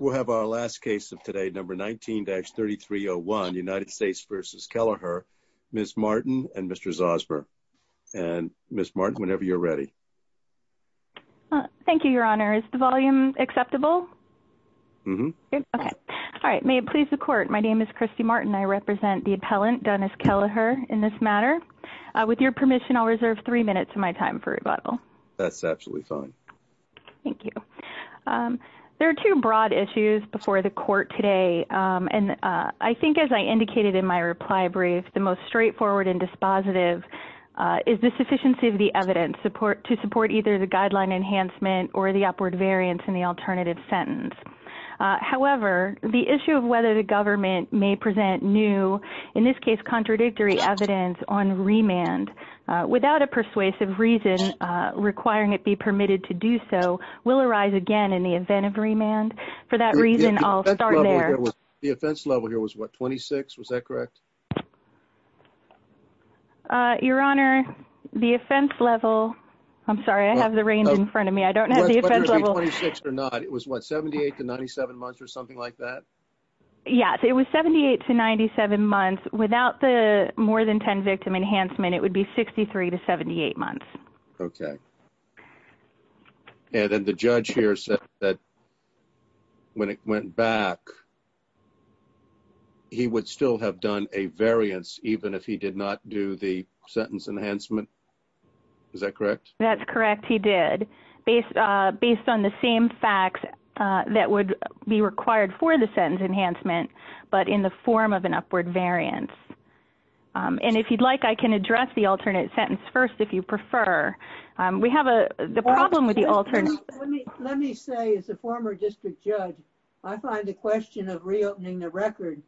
We'll have our last case of today, number 19-3301, United States v. Kelliher, Ms. Martin and Mr. Zosber. And Ms. Martin, whenever you're ready. Thank you, Your Honor. Is the volume acceptable? Mm-hmm. Okay. All right. May it please the Court, my name is Christy Martin. I represent the appellant, Dennis Kelliher, in this matter. With your permission, I'll reserve three minutes of my time for rebuttal. That's absolutely fine. Thank you. There are two broad issues before the Court today. And I think as I indicated in my reply brief, the most straightforward and dispositive is the sufficiency of the evidence to support either the guideline enhancement or the upward variance in the alternative sentence. However, the issue of whether the government may present new, in this case, contradictory evidence on remand without a persuasive reason requiring it be permitted to do so will arise again in the event of remand. For that reason, I'll start there. The offense level here was what, 26? Was that correct? Your Honor, the offense level, I'm sorry, I have the range in front of me. I don't have the offense level. Whether it be 26 or not, it was what, 78 to 97 months or something like that? Yes. It was 78 to 97 months. Without the more than 10 victim enhancement, it would be 63 to 78 months. Okay. And then the judge here said that when it went back, he would still have done a variance even if he did not do the sentence enhancement. Is that correct? That's correct. He did. Based on the same facts that would be required for the sentence enhancement, but in the form of an upward variance. And if you'd like, I can address the alternate sentence first if you prefer. We have a problem with the alternate. Let me say, as a former district judge, I find the question of reopening the record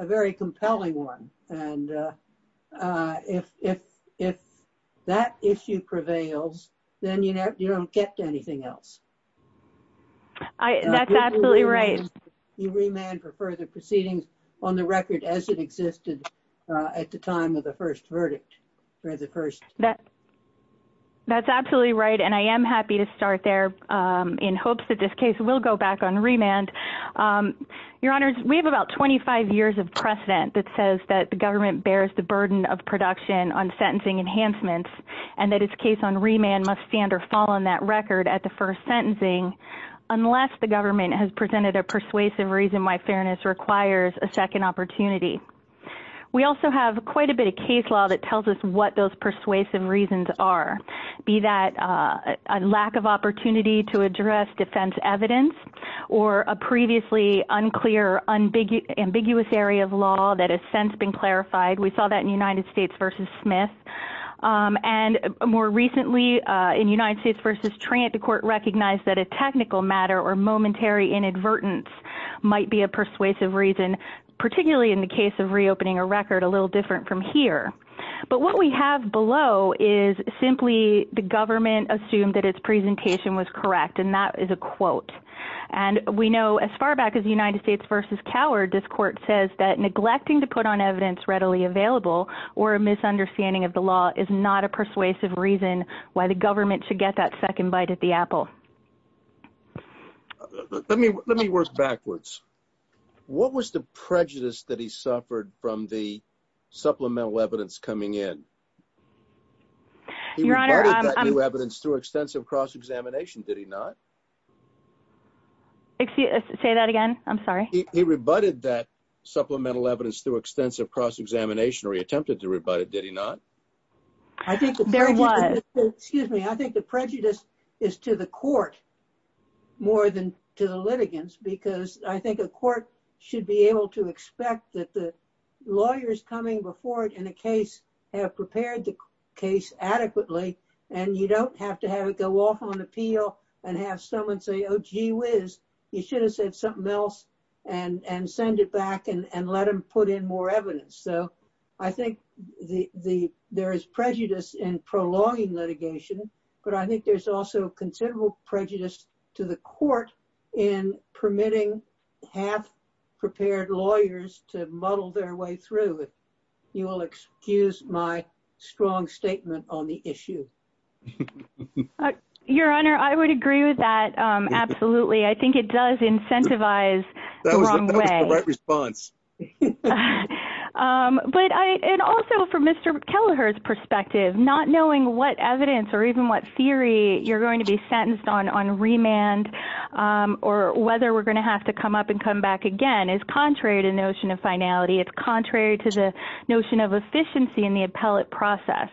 a very compelling one. And if that issue prevails, then you don't get to anything else. That's absolutely right. You remand for further proceedings on the record as it existed at the time of the first verdict. That's absolutely right. And I am happy to start there in hopes that this case will go back on remand. Your Honors, we have about 25 years of precedent that says that the government bears the burden of production on sentencing enhancements and that its case on remand must stand or fall on that record at the first sentencing unless the government has presented a persuasive reason why fairness requires a second opportunity. We also have quite a bit of case law that tells us what those persuasive reasons are, be that a lack of opportunity to address defense evidence or a previously unclear, ambiguous area of law that has since been clarified. We saw that in United States v. Smith. And more recently in United States v. Trant, the court recognized that a technical matter or momentary inadvertence might be a persuasive reason, particularly in the case of reopening a record a little different from here. But what we have below is simply the government assumed that its presentation was correct and that is a quote. And we know as far back as United States v. Coward, this court says that neglecting to the law is not a persuasive reason why the government should get that second bite at the apple. Let me work backwards. What was the prejudice that he suffered from the supplemental evidence coming in? Your Honor, I'm... He rebutted that new evidence through extensive cross-examination, did he not? Say that again, I'm sorry. He rebutted that supplemental evidence through extensive cross-examination or he attempted to rebut it, did he not? I think... There was. Excuse me. I think the prejudice is to the court more than to the litigants because I think a court should be able to expect that the lawyers coming before it in a case have prepared the case adequately and you don't have to have it go off on appeal and have someone say, oh gee whiz, you should have said something else and send it back and let them put in more evidence. So I think there is prejudice in prolonging litigation, but I think there's also considerable prejudice to the court in permitting half-prepared lawyers to muddle their way through. You will excuse my strong statement on the issue. Your Honor, I would agree with that, absolutely. That was the right response. But I... And also from Mr. Kelleher's perspective, not knowing what evidence or even what theory you're going to be sentenced on on remand or whether we're going to have to come up and come back again is contrary to the notion of finality. It's contrary to the notion of efficiency in the appellate process.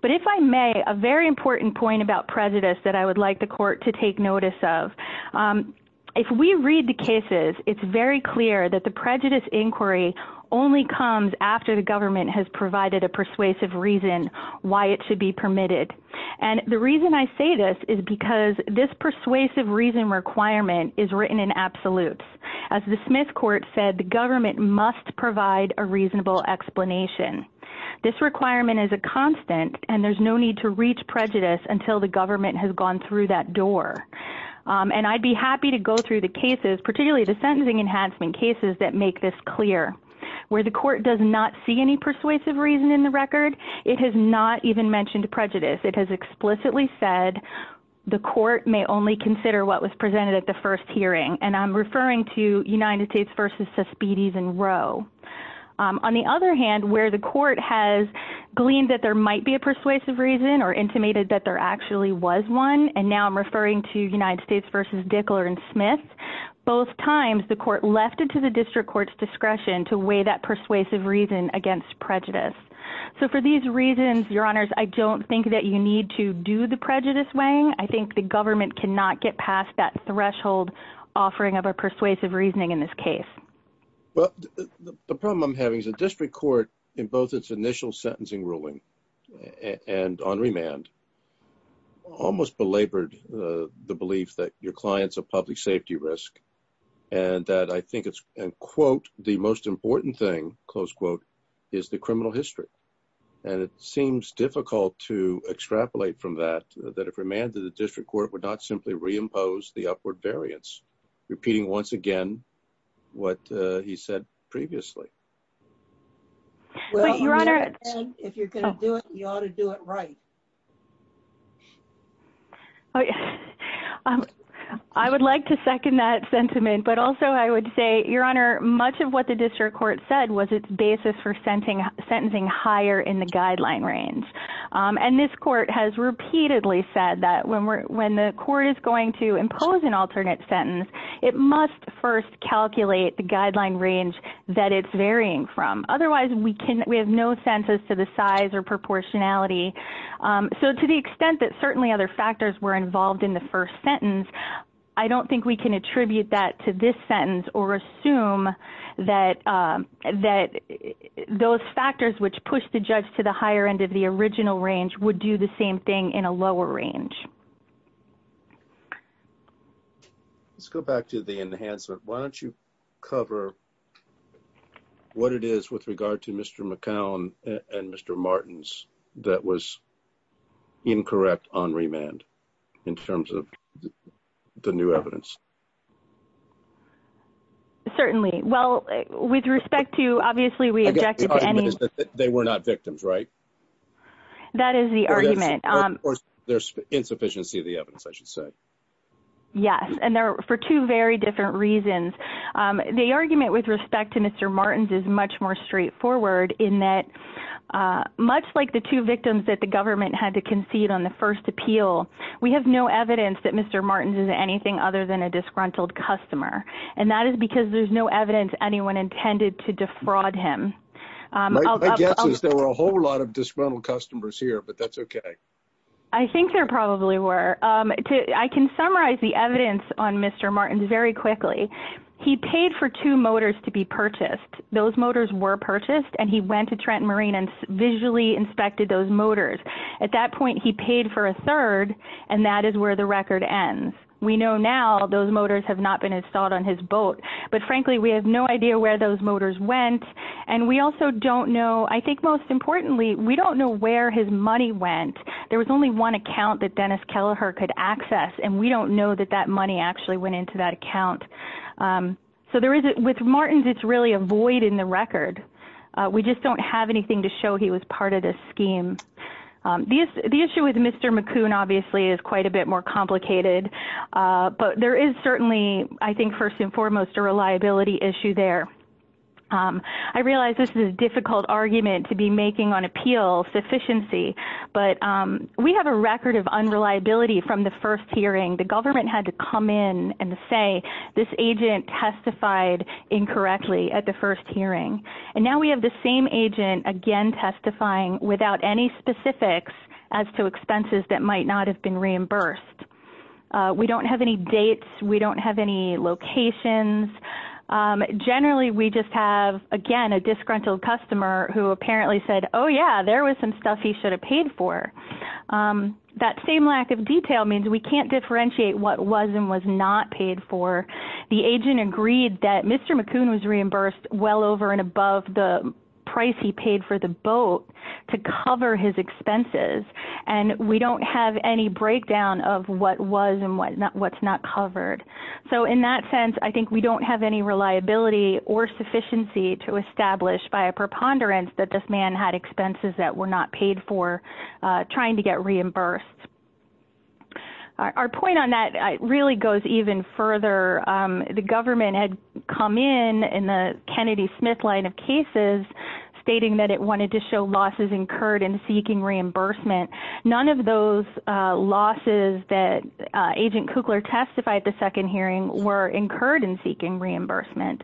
But if I may, a very important point about prejudice that I would like the court to take clear that the prejudice inquiry only comes after the government has provided a persuasive reason why it should be permitted. And the reason I say this is because this persuasive reason requirement is written in absolutes. As the Smith Court said, the government must provide a reasonable explanation. This requirement is a constant and there's no need to reach prejudice until the government has gone through that door. And I'd be happy to go through the cases, particularly the sentencing enhancement cases that make this clear. Where the court does not see any persuasive reason in the record, it has not even mentioned prejudice. It has explicitly said the court may only consider what was presented at the first hearing. And I'm referring to United States v. Suspedes and Roe. On the other hand, where the court has gleaned that there might be a persuasive reason or intimated that there actually was one, and now I'm referring to United States v. Dickler and Smith, both times the court left it to the district court's discretion to weigh that persuasive reason against prejudice. So for these reasons, Your Honors, I don't think that you need to do the prejudice weighing. I think the government cannot get past that threshold offering of a persuasive reasoning in this case. Well, the problem I'm having is the district court in both its initial sentencing ruling and on remand almost belabored the belief that your client's a public safety risk. And that I think it's, and quote, the most important thing, close quote, is the criminal history. And it seems difficult to extrapolate from that, that if remanded, the district court would not simply reimpose the upward variance, repeating once again what he said previously. Well, Your Honor, if you're going to do it, you ought to do it right. I would like to second that sentiment, but also I would say, Your Honor, much of what the district court said was its basis for sentencing higher in the guideline range. And this court has repeatedly said that when the court is going to impose an alternate sentence, it must first calculate the guideline range that it's varying from. Otherwise, we have no sense as to the size or proportionality. So to the extent that certainly other factors were involved in the first sentence, I don't think we can attribute that to this sentence or assume that those factors which push the judge to the higher end of the original range would do the same thing in a lower range. Let's go back to the enhancement. Why don't you cover what it is with regard to Mr. McCown and Mr. Martins that was incorrect on remand in terms of the new evidence? Certainly. Well, with respect to, obviously, we objected to any- They were not victims, right? That is the argument. There's insufficiency of the evidence, I should say. Yes, and for two very different reasons. The argument with respect to Mr. Martins is much more straightforward in that, much like the two victims that the government had to concede on the first appeal, we have no evidence that Mr. Martins is anything other than a disgruntled customer. And that is because there's no evidence anyone intended to defraud him. My guess is there were a whole lot of disgruntled customers here, but that's okay. I think there probably were. I can summarize the evidence on Mr. Martins very quickly. He paid for two motors to be purchased. Those motors were purchased, and he went to Trent Marine and visually inspected those motors. At that point, he paid for a third, and that is where the record ends. We know now those motors have not been installed on his boat, but frankly, we have no idea where those motors went. And we also don't know, I think most importantly, we don't know where his money went. There was only one account that Dennis Kelleher could access, and we don't know that that money actually went into that account. So with Martins, it's really a void in the record. We just don't have anything to show he was part of this scheme. The issue with Mr. McCoon, obviously, is quite a bit more complicated, but there is certainly, I think first and foremost, a reliability issue there. I realize this is a difficult argument to be making on appeal sufficiency, but we have a record of unreliability from the first hearing. The government had to come in and say, this agent testified incorrectly at the first hearing. And now we have the same agent again testifying without any specifics as to expenses that might not have been reimbursed. We don't have any dates. We don't have any locations. Generally, we just have, again, a disgruntled customer who apparently said, oh yeah, there was some stuff he should have paid for. That same lack of detail means we can't differentiate what was and was not paid for. The agent agreed that Mr. McCoon was reimbursed well over and above the price he paid for the boat to cover his expenses, and we don't have any breakdown of what was and what's not covered. So in that sense, I think we don't have any reliability or sufficiency to establish by a preponderance that this man had expenses that were not paid for trying to get reimbursed. Our point on that really goes even further. The government had come in, in the Kennedy-Smith line of cases, stating that it wanted to show losses incurred in seeking reimbursement. None of those losses that Agent Kukler testified at the second hearing were incurred in seeking reimbursement.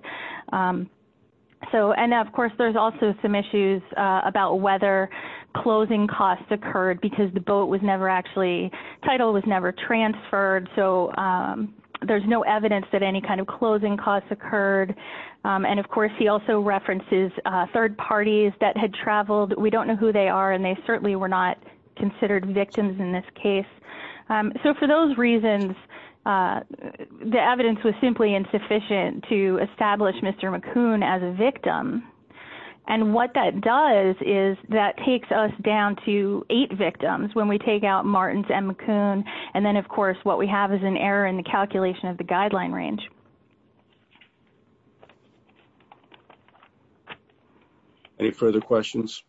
And of course, there's also some issues about whether closing costs occurred because the boat was never actually, title was never transferred. So there's no evidence that any kind of closing costs occurred. And of course, he also references third parties that had traveled. We don't know who they are, and they certainly were not considered victims in this case. So for those reasons, the evidence was simply insufficient to establish Mr. McCoon as a victim. And what that does is that takes us down to eight victims when we take out Martins and McCoon. And then, of course, what we have is an error in the calculation of the guideline range. Any further questions?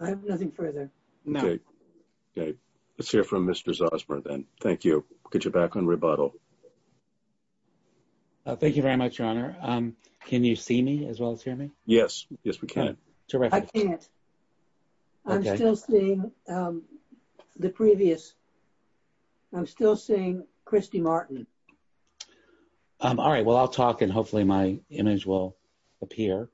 I have nothing further. No. Okay. Let's hear from Mr. Zosmer then. Thank you. Get you back on rebuttal. Thank you very much, Your Honor. Can you see me as well as hear me? Yes. Yes, we can. I can't. I'm still seeing the previous. I'm still seeing Christy Martin. All right, well, I'll talk and hopefully my image will appear.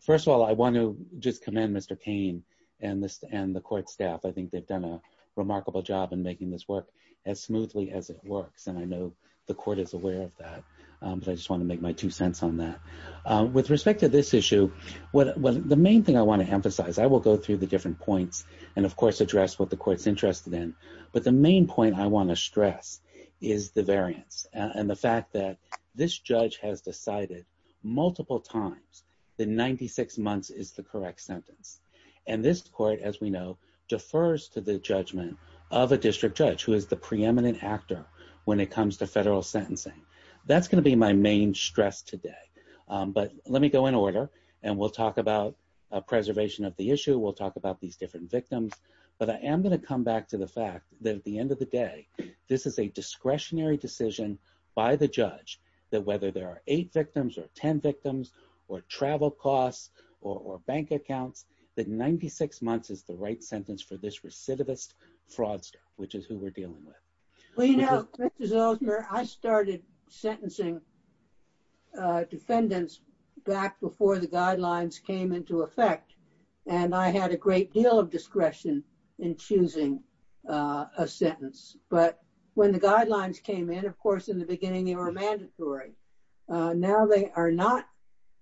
First of all, I want to just commend Mr. Payne and the court staff. I think they've done a remarkable job in making this work. As smoothly as it works. And I know the court is aware of that, but I just want to make my two cents on that. With respect to this issue, the main thing I want to emphasize, I will go through the different points and, of course, address what the court's interested in. But the main point I want to stress is the variance and the fact that this judge has decided multiple times that 96 months is the correct sentence. And this court, as we know, defers to the judgment of a district judge who is the preeminent actor when it comes to federal sentencing. That's going to be my main stress today. But let me go in order and we'll talk about preservation of the issue. We'll talk about these different victims. But I am going to come back to the fact that at the end of the day, this is a discretionary decision by the judge that whether there are eight victims or 10 victims or travel costs or bank accounts, that 96 months is the right sentence for this recidivist fraudster, which is who we're dealing with. Well, you know, Mr. Zosner, I started sentencing defendants back before the guidelines came into effect. And I had a great deal of discretion in choosing a sentence. But when the guidelines came in, of course, in the beginning, they were mandatory. Now they are not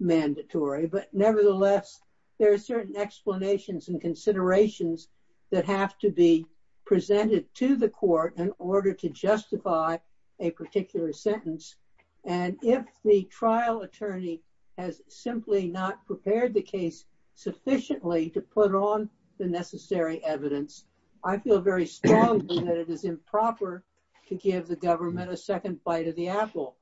mandatory. But nevertheless, there are certain explanations and considerations that have to be presented to the court in order to justify a particular sentence. And if the trial attorney has simply not prepared the case sufficiently to put on the necessary evidence, I feel very strongly that it is improper to give the government a second bite of the apple.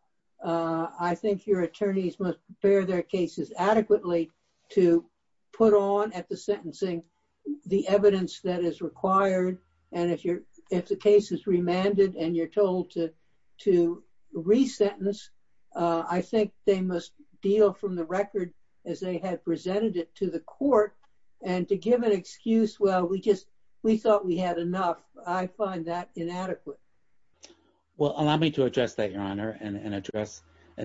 I think your attorneys must prepare their cases adequately to put on at the sentencing the evidence that is required. And if the case is remanded and you're told to re-sentence, I think they must deal from the record as they had presented it to the court and to give an excuse, well, we thought we had enough. I find that inadequate. Well, allow me to address that, Your Honor, and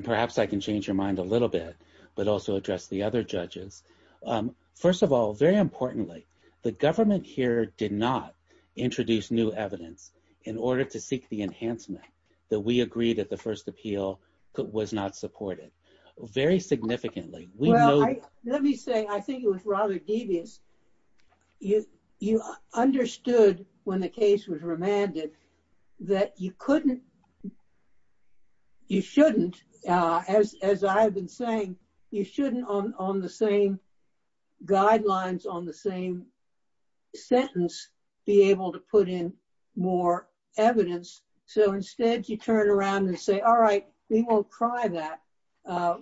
perhaps I can change your mind a little bit, but also address the other judges. First of all, very importantly, the government here did not introduce new evidence in order to seek the enhancement that we agreed at the first appeal was not supported. Very significantly. Let me say, I think it was rather devious. You understood when the case was remanded that you shouldn't, as I've been saying, you shouldn't on the same guidelines, on the same sentence, be able to put in more evidence. So instead you turn around and say, all right, we won't try that.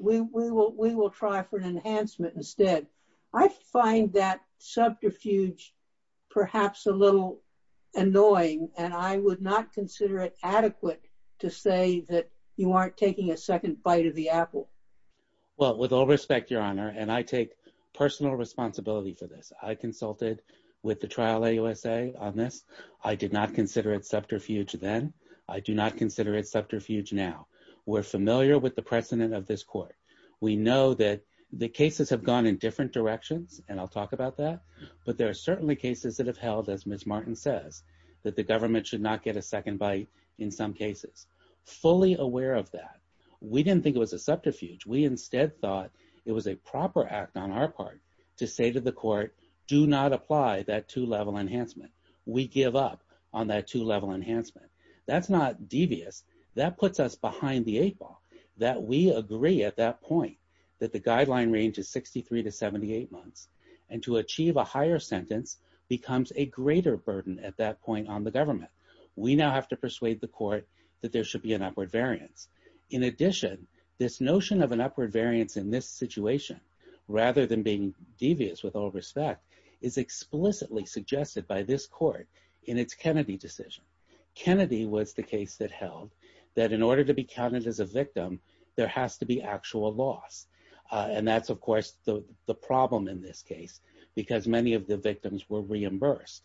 We will try for an enhancement instead. I find that subterfuge perhaps a little annoying, and I would not consider it adequate to say that you aren't taking a second bite of the apple. Well, with all respect, Your Honor, and I take personal responsibility for this. I consulted with the trial AUSA on this. I did not consider it subterfuge then. I do not consider it subterfuge now. We're familiar with the precedent of this court. We know that the cases have gone in different directions, and I'll talk about that. But there are certainly cases that have held, as Ms. Martin says, that the government should not get a second bite in some cases. Fully aware of that, we didn't think it was a subterfuge. We instead thought it was a proper act on our part to say to the court, do not apply that two-level enhancement. We give up on that two-level enhancement. That's not devious. That puts us behind the eight ball, that we agree at that point that the guideline range is 63 to 78 months, and to achieve a higher sentence becomes a greater burden at that point on the government. We now have to persuade the court that there should be an upward variance. In addition, this notion of an upward variance in this situation, rather than being devious with all respect, is explicitly suggested by this court in its Kennedy decision. Kennedy was the case that held that in order to be counted as a victim, there has to be actual loss. And that's, of course, the problem in this case, because many of the victims were reimbursed.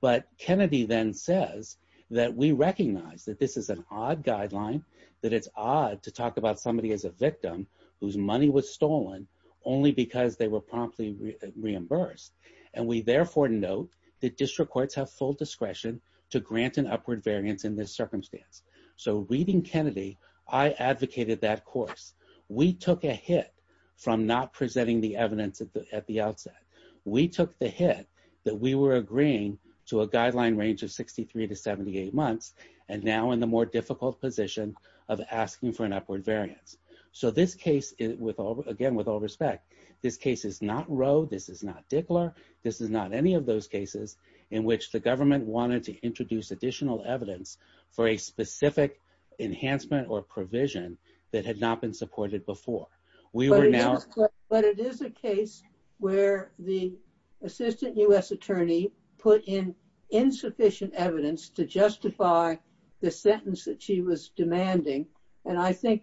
But Kennedy then says that we recognize that this is an odd guideline, that it's odd to talk about somebody as a victim whose money was stolen only because they were promptly reimbursed. And we therefore note that district courts have full discretion to grant an upward variance in this circumstance. So reading Kennedy, I advocated that course. We took a hit from not presenting the evidence at the outset. We took the hit that we were agreeing to a guideline range of 63 to 78 months, and now in the more difficult position of asking for an upward variance. So this case, again, with all respect, this case is not Roe, this is not Dickler, this is not any of those cases in which the government wanted to introduce additional evidence for a specific enhancement or provision that had not been supported before. We were now... But it is a case where the assistant U.S. attorney put in insufficient evidence to justify the sentence that she was demanding. And I think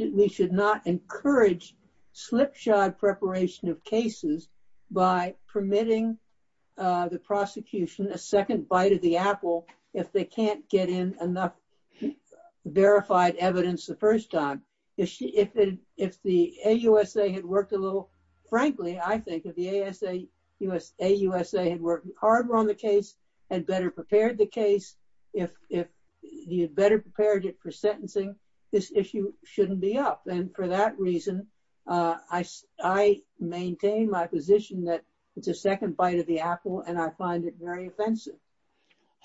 we should not encourage slipshod preparation of cases by permitting the prosecution a second bite of the apple if they can't get in enough verified evidence the first time. If the AUSA had worked a little... Frankly, I think if the AUSA had worked harder on the case, had better prepared the case, if you'd better prepared it for sentencing, this issue shouldn't be up. And for that reason, I maintain my position that it's a second bite of the apple and I find it very offensive.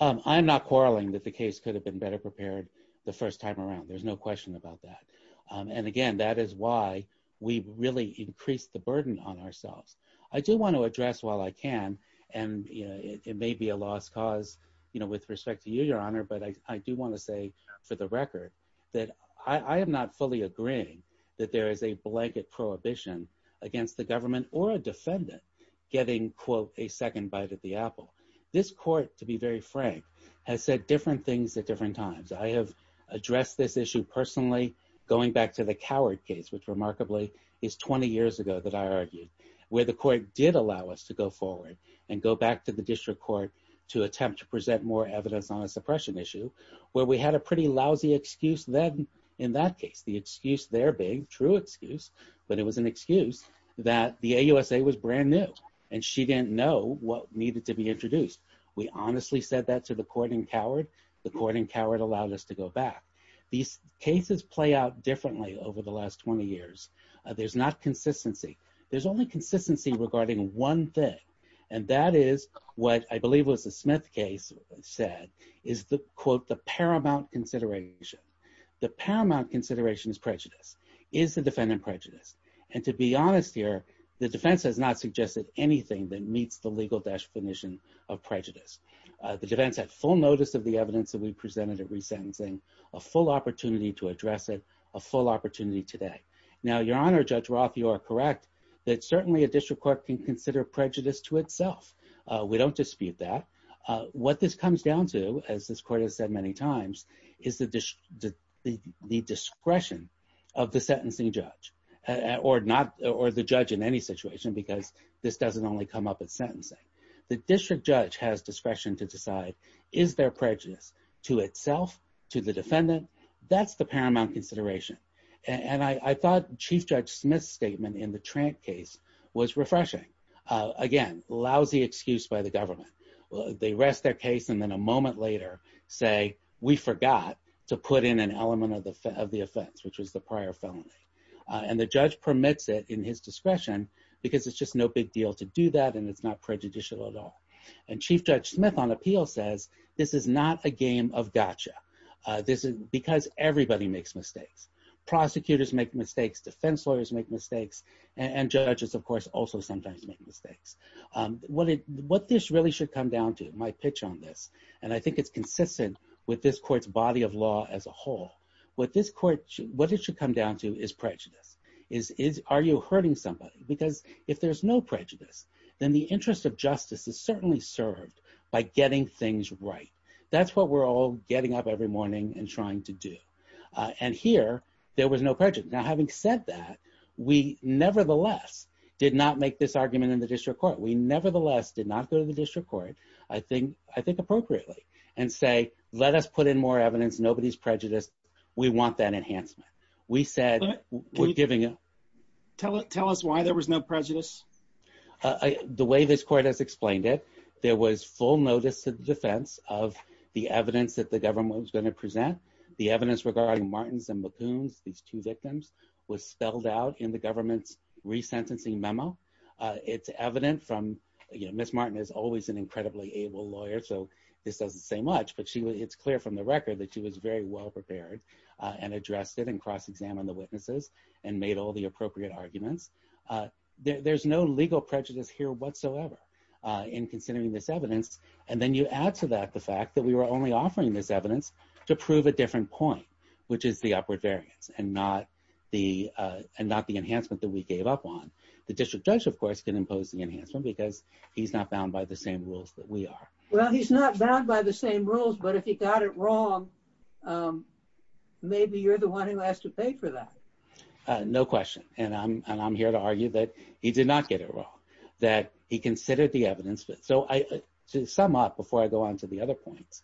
I'm not quarreling that the case could have been better prepared the first time around. There's no question about that. And again, that is why we really increased the burden on ourselves. I do want to address while I can, and it may be a lost cause with respect to you, Your Honor, but I do want to say for the record that I am not fully agreeing that there is a blanket prohibition against the government or a defendant getting, quote, a second bite of the apple. This court, to be very frank, has said different things at different times. I have addressed this issue personally going back to the Coward case, which remarkably is 20 years ago that I argued, where the court did allow us to go forward and go back to the district court to attempt to present more evidence on a suppression issue where we had a pretty lousy excuse then in that case. The excuse there being, true excuse, but it was an excuse that the AUSA was brand new and she didn't know what needed to be introduced. We honestly said that to the court in Coward. The court in Coward allowed us to go back. These cases play out differently over the last 20 years. There's not consistency. There's only consistency regarding one thing, and that is what I believe was the Smith case said is the, quote, the paramount consideration. The paramount consideration is prejudice. Is the defendant prejudiced? And to be honest here, the defense has not suggested anything that meets the legal definition of prejudice. The defense had full notice of the evidence that we presented at resentencing, a full opportunity to address it, a full opportunity today. Now, Your Honor, Judge Roth, you are correct that certainly a district court can consider prejudice to itself. We don't dispute that. What this comes down to, as this court has said many times, is the discretion of the sentencing judge or the judge in any situation because this doesn't only come up at sentencing. The district judge has discretion to decide is there prejudice to itself, to the defendant? That's the paramount consideration. And I thought Chief Judge Smith's statement in the Trant case was refreshing. Again, lousy excuse by the government. They rest their case and then a moment later say, we forgot to put in an element of the offense, which was the prior felony. And the judge permits it in his discretion because it's just no big deal to do that and it's not prejudicial at all. And Chief Judge Smith on appeal says, this is not a game of gotcha. Because everybody makes mistakes. Prosecutors make mistakes, defense lawyers make mistakes, and judges, of course, also sometimes make mistakes. What this really should come down to, my pitch on this, and I think it's consistent with this court's body of law as a whole, what it should come down to is prejudice. Are you hurting somebody? Because if there's no prejudice, then the interest of justice is certainly served by getting things right. That's what we're all getting up every morning and trying to do. And here, there was no prejudice. Now, having said that, we nevertheless did not make this argument in the district court. We nevertheless did not go to the district court, I think appropriately, and say, let us put in more evidence. Nobody's prejudiced. We want that enhancement. We said, we're giving it. Tell us why there was no prejudice. The way this court has explained it, there was full notice to the defense of the evidence that the government was gonna present. The evidence regarding Martins and McCoons, these two victims, was spelled out in the government's resentencing memo. It's evident from, you know, Ms. Martin is always an incredibly able lawyer, so this doesn't say much, but it's clear from the record that she was very well-prepared and addressed it and cross-examined the witnesses and made all the appropriate arguments. There's no legal prejudice here whatsoever in considering this evidence. And then you add to that the fact that we were only offering this evidence to prove a different point, which is the upward variance and not the enhancement that we gave up on. The district judge, of course, can impose the enhancement because he's not bound by the same rules that we are. Well, he's not bound by the same rules, but if he got it wrong, maybe you're the one who has to pay for that. No question. And I'm here to argue that he did not get it wrong, that he considered the evidence. So to sum up before I go on to the other points,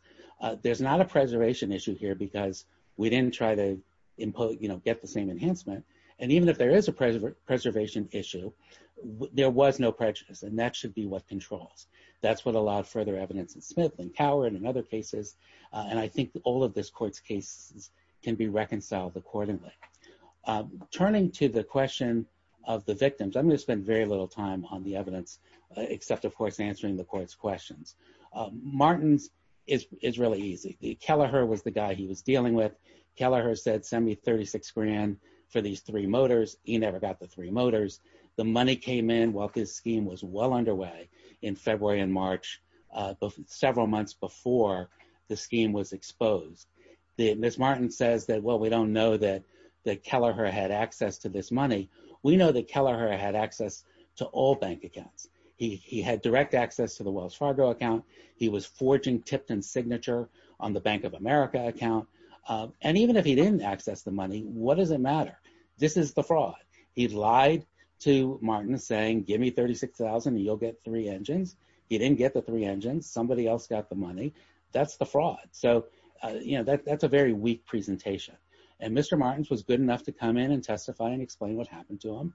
there's not a preservation issue here because we didn't try to, you know, get the same enhancement. And even if there is a preservation issue, there was no prejudice and that should be what controls. That's what allowed further evidence in Smith and Coward and other cases. And I think all of this court's cases can be reconciled accordingly. Turning to the question of the victims, I'm gonna spend very little time on the evidence, except of course, answering the court's questions. Martin's is really easy. Kelleher was the guy he was dealing with. Kelleher said, send me 36 grand for these three motors. He never got the three motors. The money came in while his scheme was well underway in February and March, several months before the scheme was exposed. Ms. Martin says that, well, we don't know that Kelleher had access to this money. We know that Kelleher had access to all bank accounts. He had direct access to the Wells Fargo account. He was forging Tipton's signature on the Bank of America account. And even if he didn't access the money, what does it matter? This is the fraud. He lied to Martin saying, give me 36,000 and you'll get three engines. He didn't get the three engines. Somebody else got the money. That's the fraud. So that's a very weak presentation. And Mr. Martin's was good enough to come in and testify and explain what happened to him.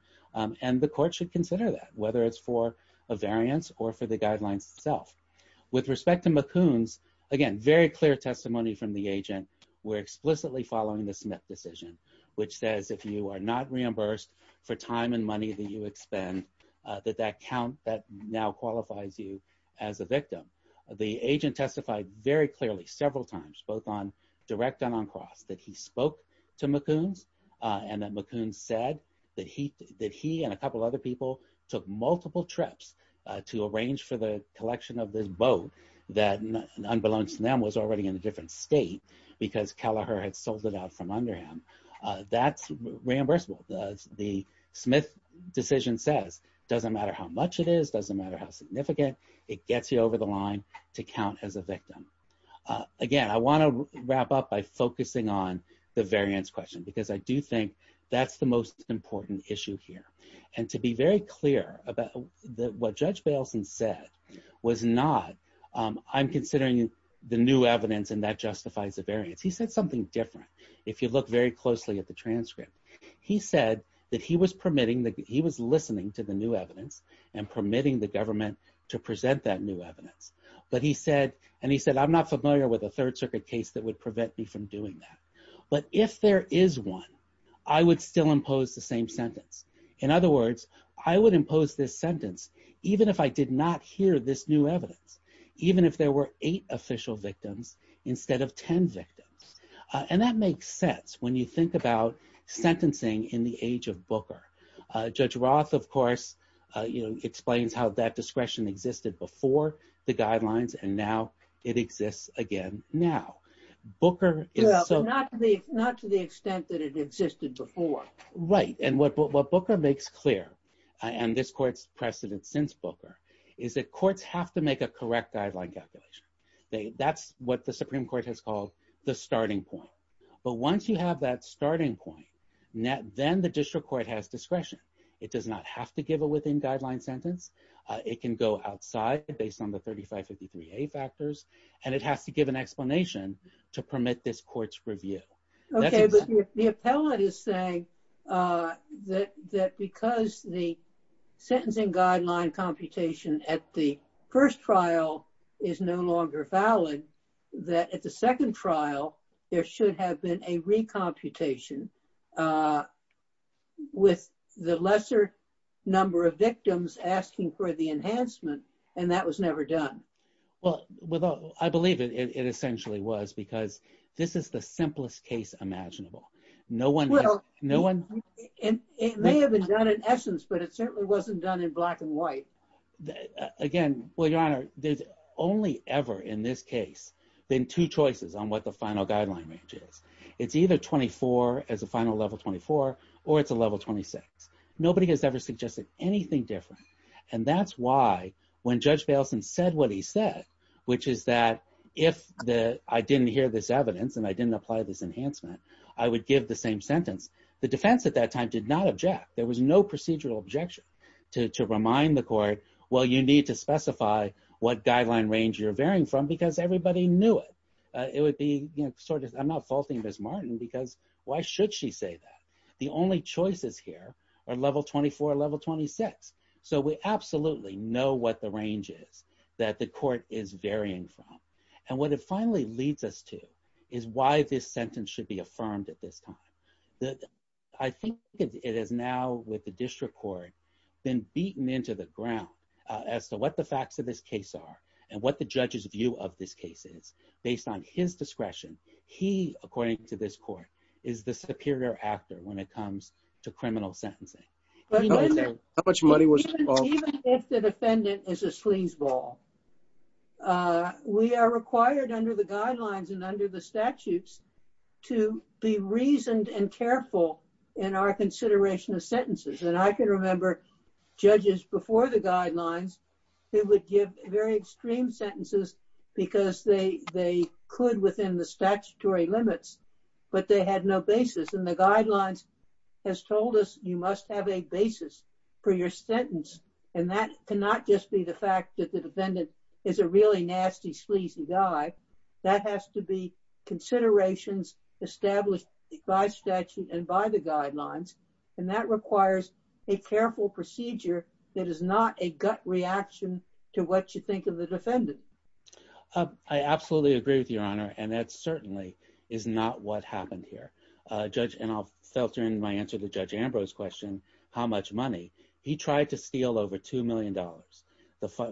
And the court should consider that whether it's for a variance or for the guidelines itself. With respect to McCoon's, again, very clear testimony from the agent. We're explicitly following the Smith decision, which says if you are not reimbursed for time and money that you expend, that that count that now qualifies you as a victim. The agent testified very clearly several times, both on direct and on cross, that he spoke to McCoon's and that McCoon's said that he and a couple other people took multiple trips to arrange for the collection of this boat that unbeknownst to them was already in a different state because Kelleher had sold it out from Underham. That's reimbursable. The Smith decision says, it doesn't matter how much it is. It doesn't matter how significant. It gets you over the line to count as a victim. Again, I wanna wrap up by focusing on the variance question because I do think that's the most important issue here. And to be very clear about what Judge Bailson said was not, I'm considering the new evidence and that justifies the variance. He said something different. If you look very closely at the transcript, he said that he was permitting, he was listening to the new evidence and permitting the government to present that new evidence. But he said, and he said, I'm not familiar with a third circuit case that would prevent me from doing that. But if there is one, I would still impose the same sentence. In other words, I would impose this sentence, even if I did not hear this new evidence, even if there were eight official victims instead of 10 victims. And that makes sense when you think about sentencing in the age of Booker. Judge Roth, of course, explains how that discretion existed before the guidelines and now it exists again now. Booker is so- Well, but not to the extent that it existed before. Right. And what Booker makes clear, and this court's precedent since Booker is that courts have to make a correct guideline calculation. That's what the Supreme Court has called the starting point. But once you have that starting point, then the district court has discretion. It does not have to give a within guideline sentence. It can go outside based on the 3553A factors. And it has to give an explanation to permit this court's review. Okay, but the appellate is saying that because the sentencing guideline computation at the first trial is no longer valid, that at the second trial, there should have been a recomputation with the lesser number of victims asking for the enhancement, and that was never done. Well, I believe it essentially was because this is the simplest case imaginable. No one- Well, it may have been done in essence, but it certainly wasn't done in black and white. Again, well, Your Honor, there's only ever in this case been two choices on what the final guideline range is. It's either 24 as a final level 24, or it's a level 26. Nobody has ever suggested anything different. And that's why when Judge Baleson said what he said, which is that if I didn't hear this evidence and I didn't apply this enhancement, I would give the same sentence. The defense at that time did not object. There was no procedural objection to remind the court, well, you need to specify what guideline range you're varying from because everybody knew it. It would be sort of, I'm not faulting Ms. Martin because why should she say that? The only choices here are level 24, level 26. So we absolutely know what the range is that the court is varying from. And what it finally leads us to is why this sentence should be affirmed at this time. I think it is now with the district court then beaten into the ground as to what the facts of this case are and what the judge's view of this case is based on his discretion. He, according to this court, is the superior actor when it comes to criminal sentencing. Even if the defendant is a sleazeball, we are required under the guidelines and under the statutes to be reasoned and careful in our consideration of sentences. And I can remember judges before the guidelines, they would give very extreme sentences because they could within the statutory limits, but they had no basis. And the guidelines has told us you must have a basis for your sentence. And that cannot just be the fact that the defendant is a really nasty sleazy guy. That has to be considerations established by statute and by the guidelines. And that requires a careful procedure that is not a gut reaction to what you think of the defendant. I absolutely agree with you, Your Honor. And that certainly is not what happened here. Judge, and I'll filter in my answer to Judge Ambrose question, how much money? He tried to steal over $2 million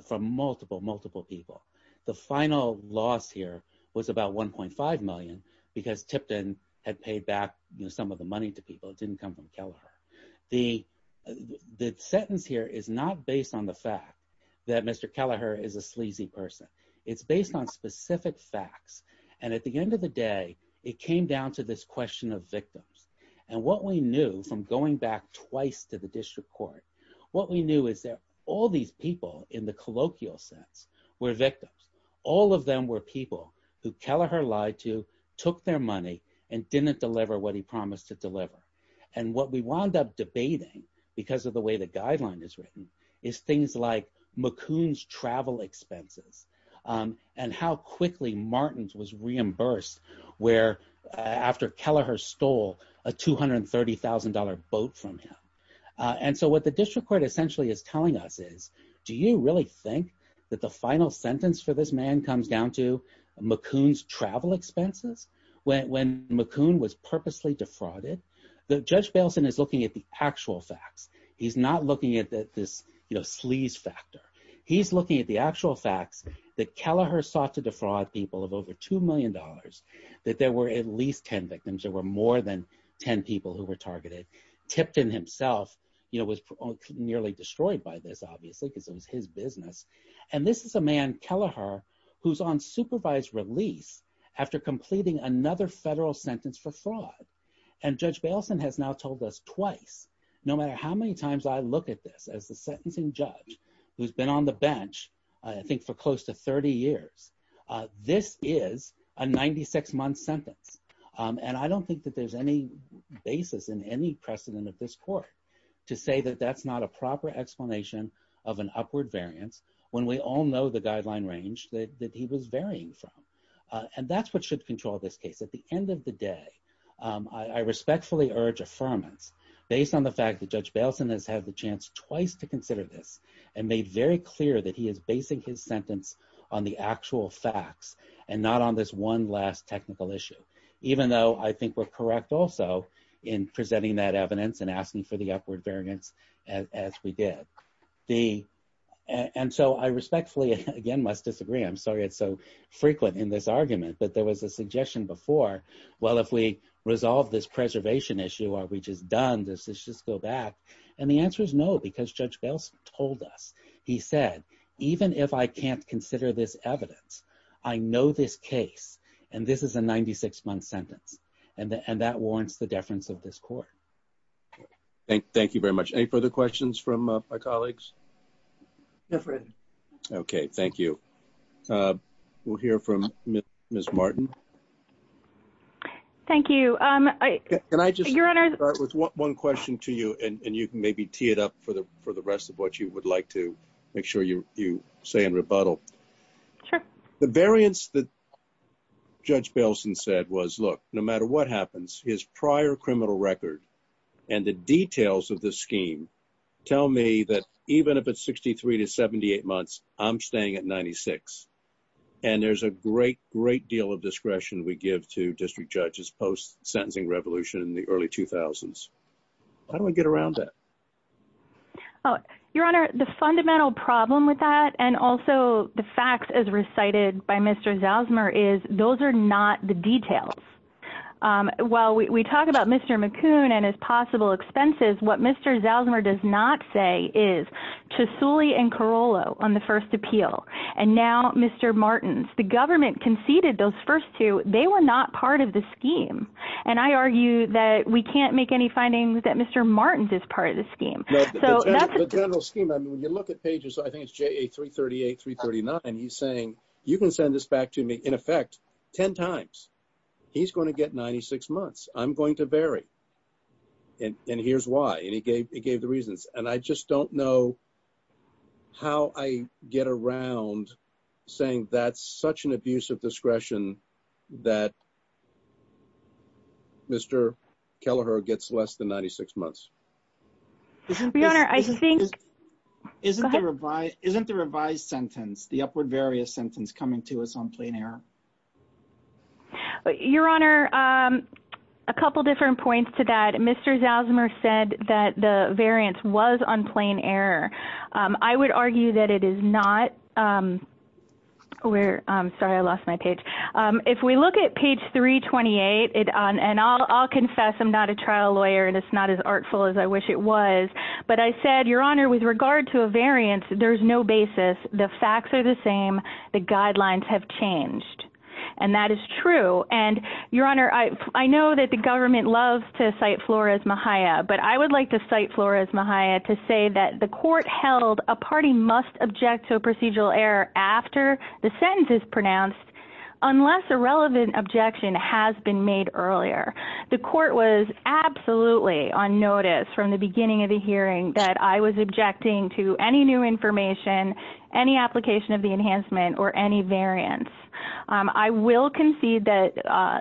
from multiple, multiple people. The final loss here was about 1.5 million because Tipton had paid back some of the money to people. It didn't come from Kelleher. The sentence here is not based on the fact that Mr. Kelleher is a sleazy person. It's based on specific facts. And at the end of the day, it came down to this question of victims. And what we knew from going back twice to the district court, what we knew is that all these people in the colloquial sense were victims. All of them were people who Kelleher lied to, took their money and didn't deliver what he promised to deliver. And what we wound up debating because of the way the guideline is written is things like McCoon's travel expenses and how quickly Martins was reimbursed where after Kelleher stole a $230,000 boat from him. And so what the district court essentially is telling us is, do you really think that the final sentence for this man comes down to McCoon's travel expenses? When McCoon was purposely defrauded, the Judge Bailson is looking at the actual facts. He's not looking at this sleaze factor. He's looking at the actual facts that Kelleher sought to defraud people of over $2 million, that there were at least 10 victims. There were more than 10 people who were targeted. Tipton himself was nearly destroyed by this, obviously, because it was his business. And this is a man, Kelleher, who's on supervised release after completing another federal sentence for fraud. And Judge Bailson has now told us twice, no matter how many times I look at this as the sentencing judge who's been on the bench, I think for close to 30 years, this is a 96-month sentence. And I don't think that there's any basis in any precedent of this court to say that that's not a proper explanation of an upward variance when we all know the guideline range that he was varying from. And that's what should control this case. At the end of the day, I respectfully urge affirmance based on the fact that Judge Bailson has had the chance twice to consider this and made very clear that he is basing his sentence on the actual facts and not on this one last technical issue, even though I think we're correct also in presenting that evidence and asking for the upward variance as we did. And so I respectfully, again, must disagree. I'm sorry it's so frequent in this argument, but there was a suggestion before, well, if we resolve this preservation issue, are we just done? Does this just go back? And the answer is no, because Judge Bailson told us. He said, even if I can't consider this evidence, I know this case, and this is a 96-month sentence. And that warrants the deference of this court. Thank you very much. Any further questions from my colleagues? Okay, thank you. We'll hear from Ms. Martin. Thank you. Can I just start with one question to you? And you can maybe tee it up for the rest of what you would like to make sure you say in rebuttal. The variance that Judge Bailson said was, look, no matter what happens, his prior criminal record and the details of the scheme tell me that even if it's 63 to 78 months, I'm staying at 96. And there's a great, great deal of discretion we give to district judges post-sentencing revolution in the early 2000s. How do we get around that? Your Honor, the fundamental problem with that and also the facts as recited by Mr. Zalzmer is those are not the details. While we talk about Mr. McCoon and his possible expenses, what Mr. Zalzmer does not say is to Sully and Carollo on the first appeal. And now, Mr. Martins, the government conceded those first two, they were not part of the scheme. And I argue that we can't make any findings that Mr. Martins is part of the scheme. So that's a general scheme. I mean, when you look at pages, I think it's JA 338, 339, he's saying you can send this back to me in effect 10 times. He's going to get 96 months. I'm going to vary. And here's why. And he gave the reasons. And I just don't know how I get around saying that's such an abuse of discretion that Mr. Kelleher gets less than 96 months. Isn't the revised sentence, the upward various sentence coming to us on plain error? Your Honor, a couple different points to that. Mr. Zalzmer said that the variance was on plain error. I would argue that it is not. Sorry, I lost my page. If we look at page 328, and I'll confess I'm not a trial lawyer, and it's not as artful as I wish it was. But I said, Your Honor, with regard to a variance, there's no basis. The facts are the same. The guidelines have changed. And that is true. And Your Honor, I know that the government loves to cite Flores Mejia, but I would like to cite Flores Mejia to say that the court held a party must object to a procedural error after the sentence is pronounced unless a relevant objection has been made earlier. The court was absolutely on notice from the beginning of the hearing that I was objecting to any new information, any application of the enhancement or any variance. I will concede that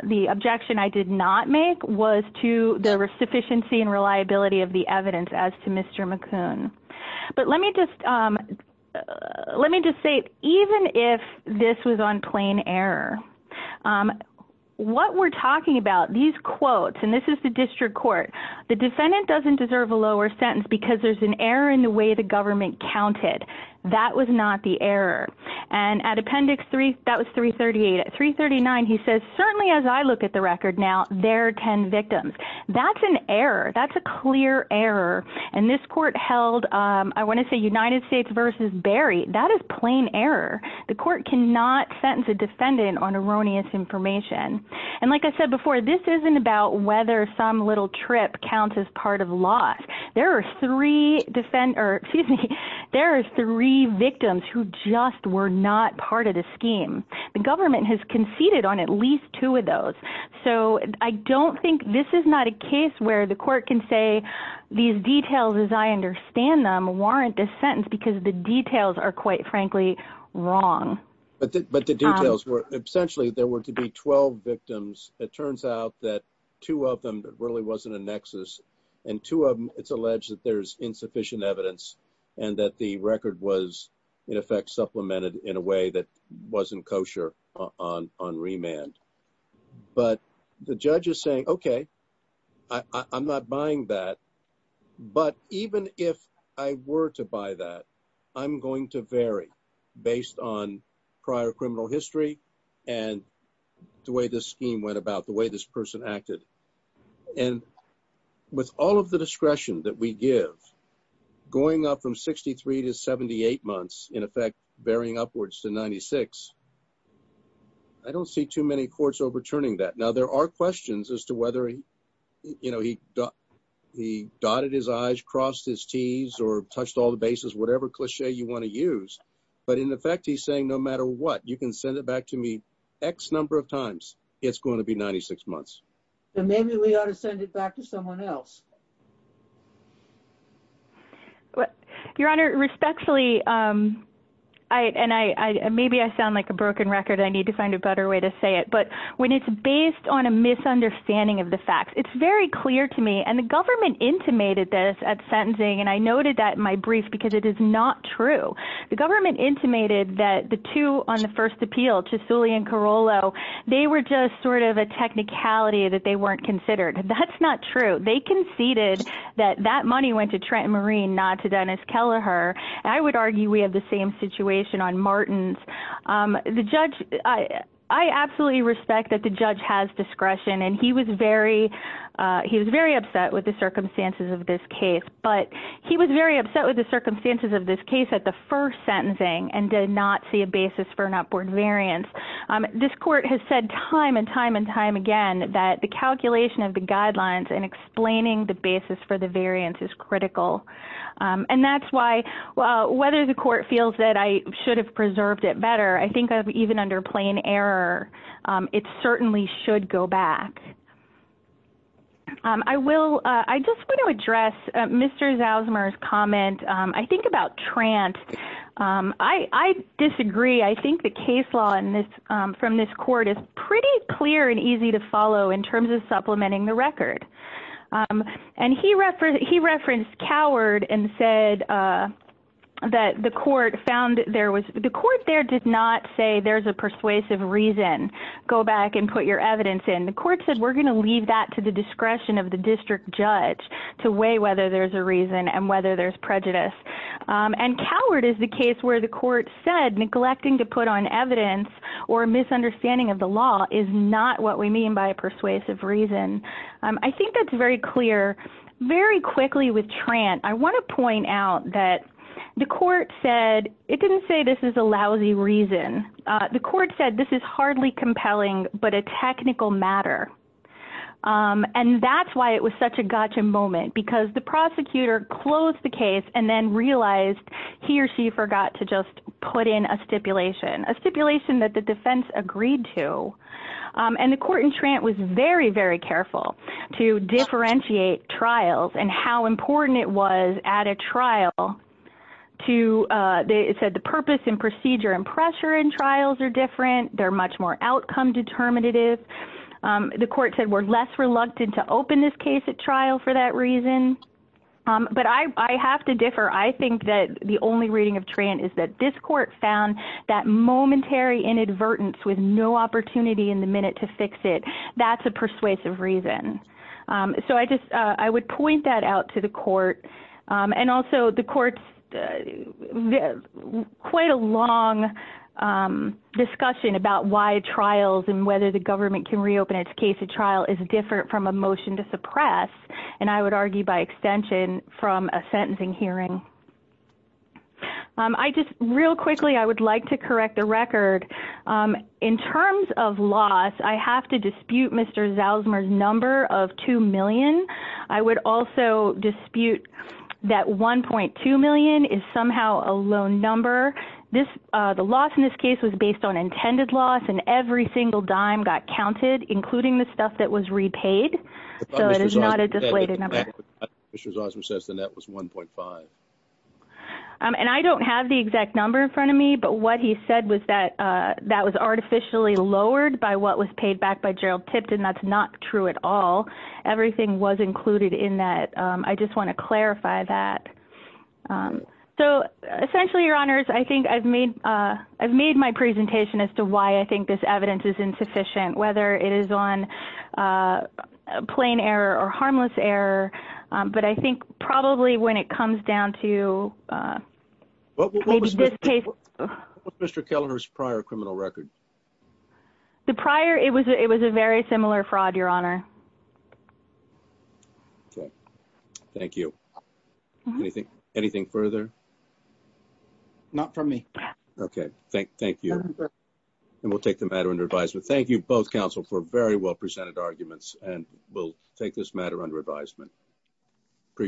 the objection I did not make was to the sufficiency and reliability of the evidence as to Mr. McCoon. But let me just say, even if this was on plain error, what we're talking about, these quotes, and this is the district court, the defendant doesn't deserve a lower sentence because there's an error in the way the government counted. That was not the error. And at appendix three, that was 338. At 339, he says, certainly as I look at the record now, there are 10 victims. That's an error. That's a clear error. And this court held, I want to say United States versus Berry. That is plain error. The court cannot sentence a defendant on erroneous information. And like I said before, this isn't about whether some little trip counts as part of loss. There are three defend, or excuse me, there are three victims who just were not part of the scheme. The government has conceded on at least two of those. So I don't think this is not a case where the court can say these details as I understand them warrant this sentence because the details are, quite frankly, wrong. But the details were essentially, there were to be 12 victims. It turns out that two of them really wasn't a nexus. And two of them, it's alleged that there's insufficient evidence and that the record was, in effect, supplemented in a way that wasn't kosher on remand. But the judge is saying, OK, I'm not buying that. But even if I were to buy that, I'm going to vary based on prior criminal history and the way this scheme went about, the way this person acted. And with all of the discretion that we give, going up from 63 to 78 months, in effect, varying upwards to 96, I don't see too many courts overturning that. Now, there are questions as to whether he, you know, he dotted his I's, crossed his T's, or touched all the bases, whatever cliche you want to use. But in effect, he's saying, no matter what, you can send it back to me X number of times, it's going to be 96 months. And maybe we ought to send it back to someone else. Your Honor, respectfully, and maybe I sound like a broken record, I need to find a better way to say it. But when it's based on a misunderstanding of the facts, it's very clear to me. And the government intimated this at sentencing. And I noted that in my brief, because it is not true. The government intimated that the two on the first appeal, Chisouli and Carollo, they were just sort of a technicality that they weren't considered. That's not true. They conceded that that money went to Trent Marine, not to Dennis Kelleher. And I would argue we have the same situation on Martins. I absolutely respect that the judge has discretion. And he was very upset with the circumstances of this case. But he was very upset with the circumstances of this case at the first sentencing and did not see a basis for an upward variance. This court has said time and time and time again that the calculation of the guidelines and explaining the basis for the variance is critical. And that's why, whether the court feels that I should have preserved it better, I think even under plain error, it certainly should go back. I will, I just want to address Mr. Zausmer's comment. I think about Trent. I disagree. I think the case law from this court is pretty clear and easy to follow in terms of supplementing the record. And he referenced Coward and said that the court found there was, the court there did not say there's a persuasive reason. Go back and put your evidence in. The court said we're going to leave that to the discretion of the district judge to weigh whether there's a reason and whether there's prejudice. And Coward is the case where the court said neglecting to put on evidence or misunderstanding of the law is not what we mean by a persuasive reason. I think that's very clear. Very quickly with Trent, I want to point out that the court said it didn't say this is a lousy reason. The court said this is hardly compelling, but a technical matter. And that's why it was such a gotcha moment because the prosecutor closed the case and then realized he or she forgot to just put in a stipulation, a stipulation that the defense agreed to. And the court in Trent was very, very careful to differentiate trials and how important it was at a trial to, it said the purpose and procedure and pressure in trials are different. They're much more outcome determinative. The court said we're less reluctant to open this case at trial for that reason. But I have to differ. I think that the only reading of Trent is that this court found that momentary inadvertence with no opportunity in the minute to fix it. That's a persuasive reason. So I just, I would point that out to the court and also the court's quite a long discussion about why trials and whether the government can reopen its case at trial is different from a motion to suppress. And I would argue by extension from a sentencing hearing. I just, real quickly, I would like to correct the record. In terms of loss, I have to dispute Mr. Zalzmer's number of 2 million. I would also dispute that 1.2 million is somehow a low number. This, the loss in this case was based on intended loss and every single dime got counted, including the stuff that was repaid. So it is not a deflated number. But Mr. Zalzmer says the net was 1.5. And I don't have the exact number in front of me, but what he said was that that was artificially lowered by what was paid back by Gerald Tipton. That's not true at all. Everything was included in that. I just want to clarify that. So essentially, your honors, I think I've made, I've made my presentation as to why I think this evidence is insufficient, whether it is on plain error or harmless error. But I think probably when it comes down to... What was Mr. Kellner's prior criminal record? The prior, it was a very similar fraud, your honor. Okay, thank you. Anything further? Not from me. Okay, thank you. And we'll take the matter under advisement. Thank you both, counsel, for very well presented arguments. under advisement. Appreciate it.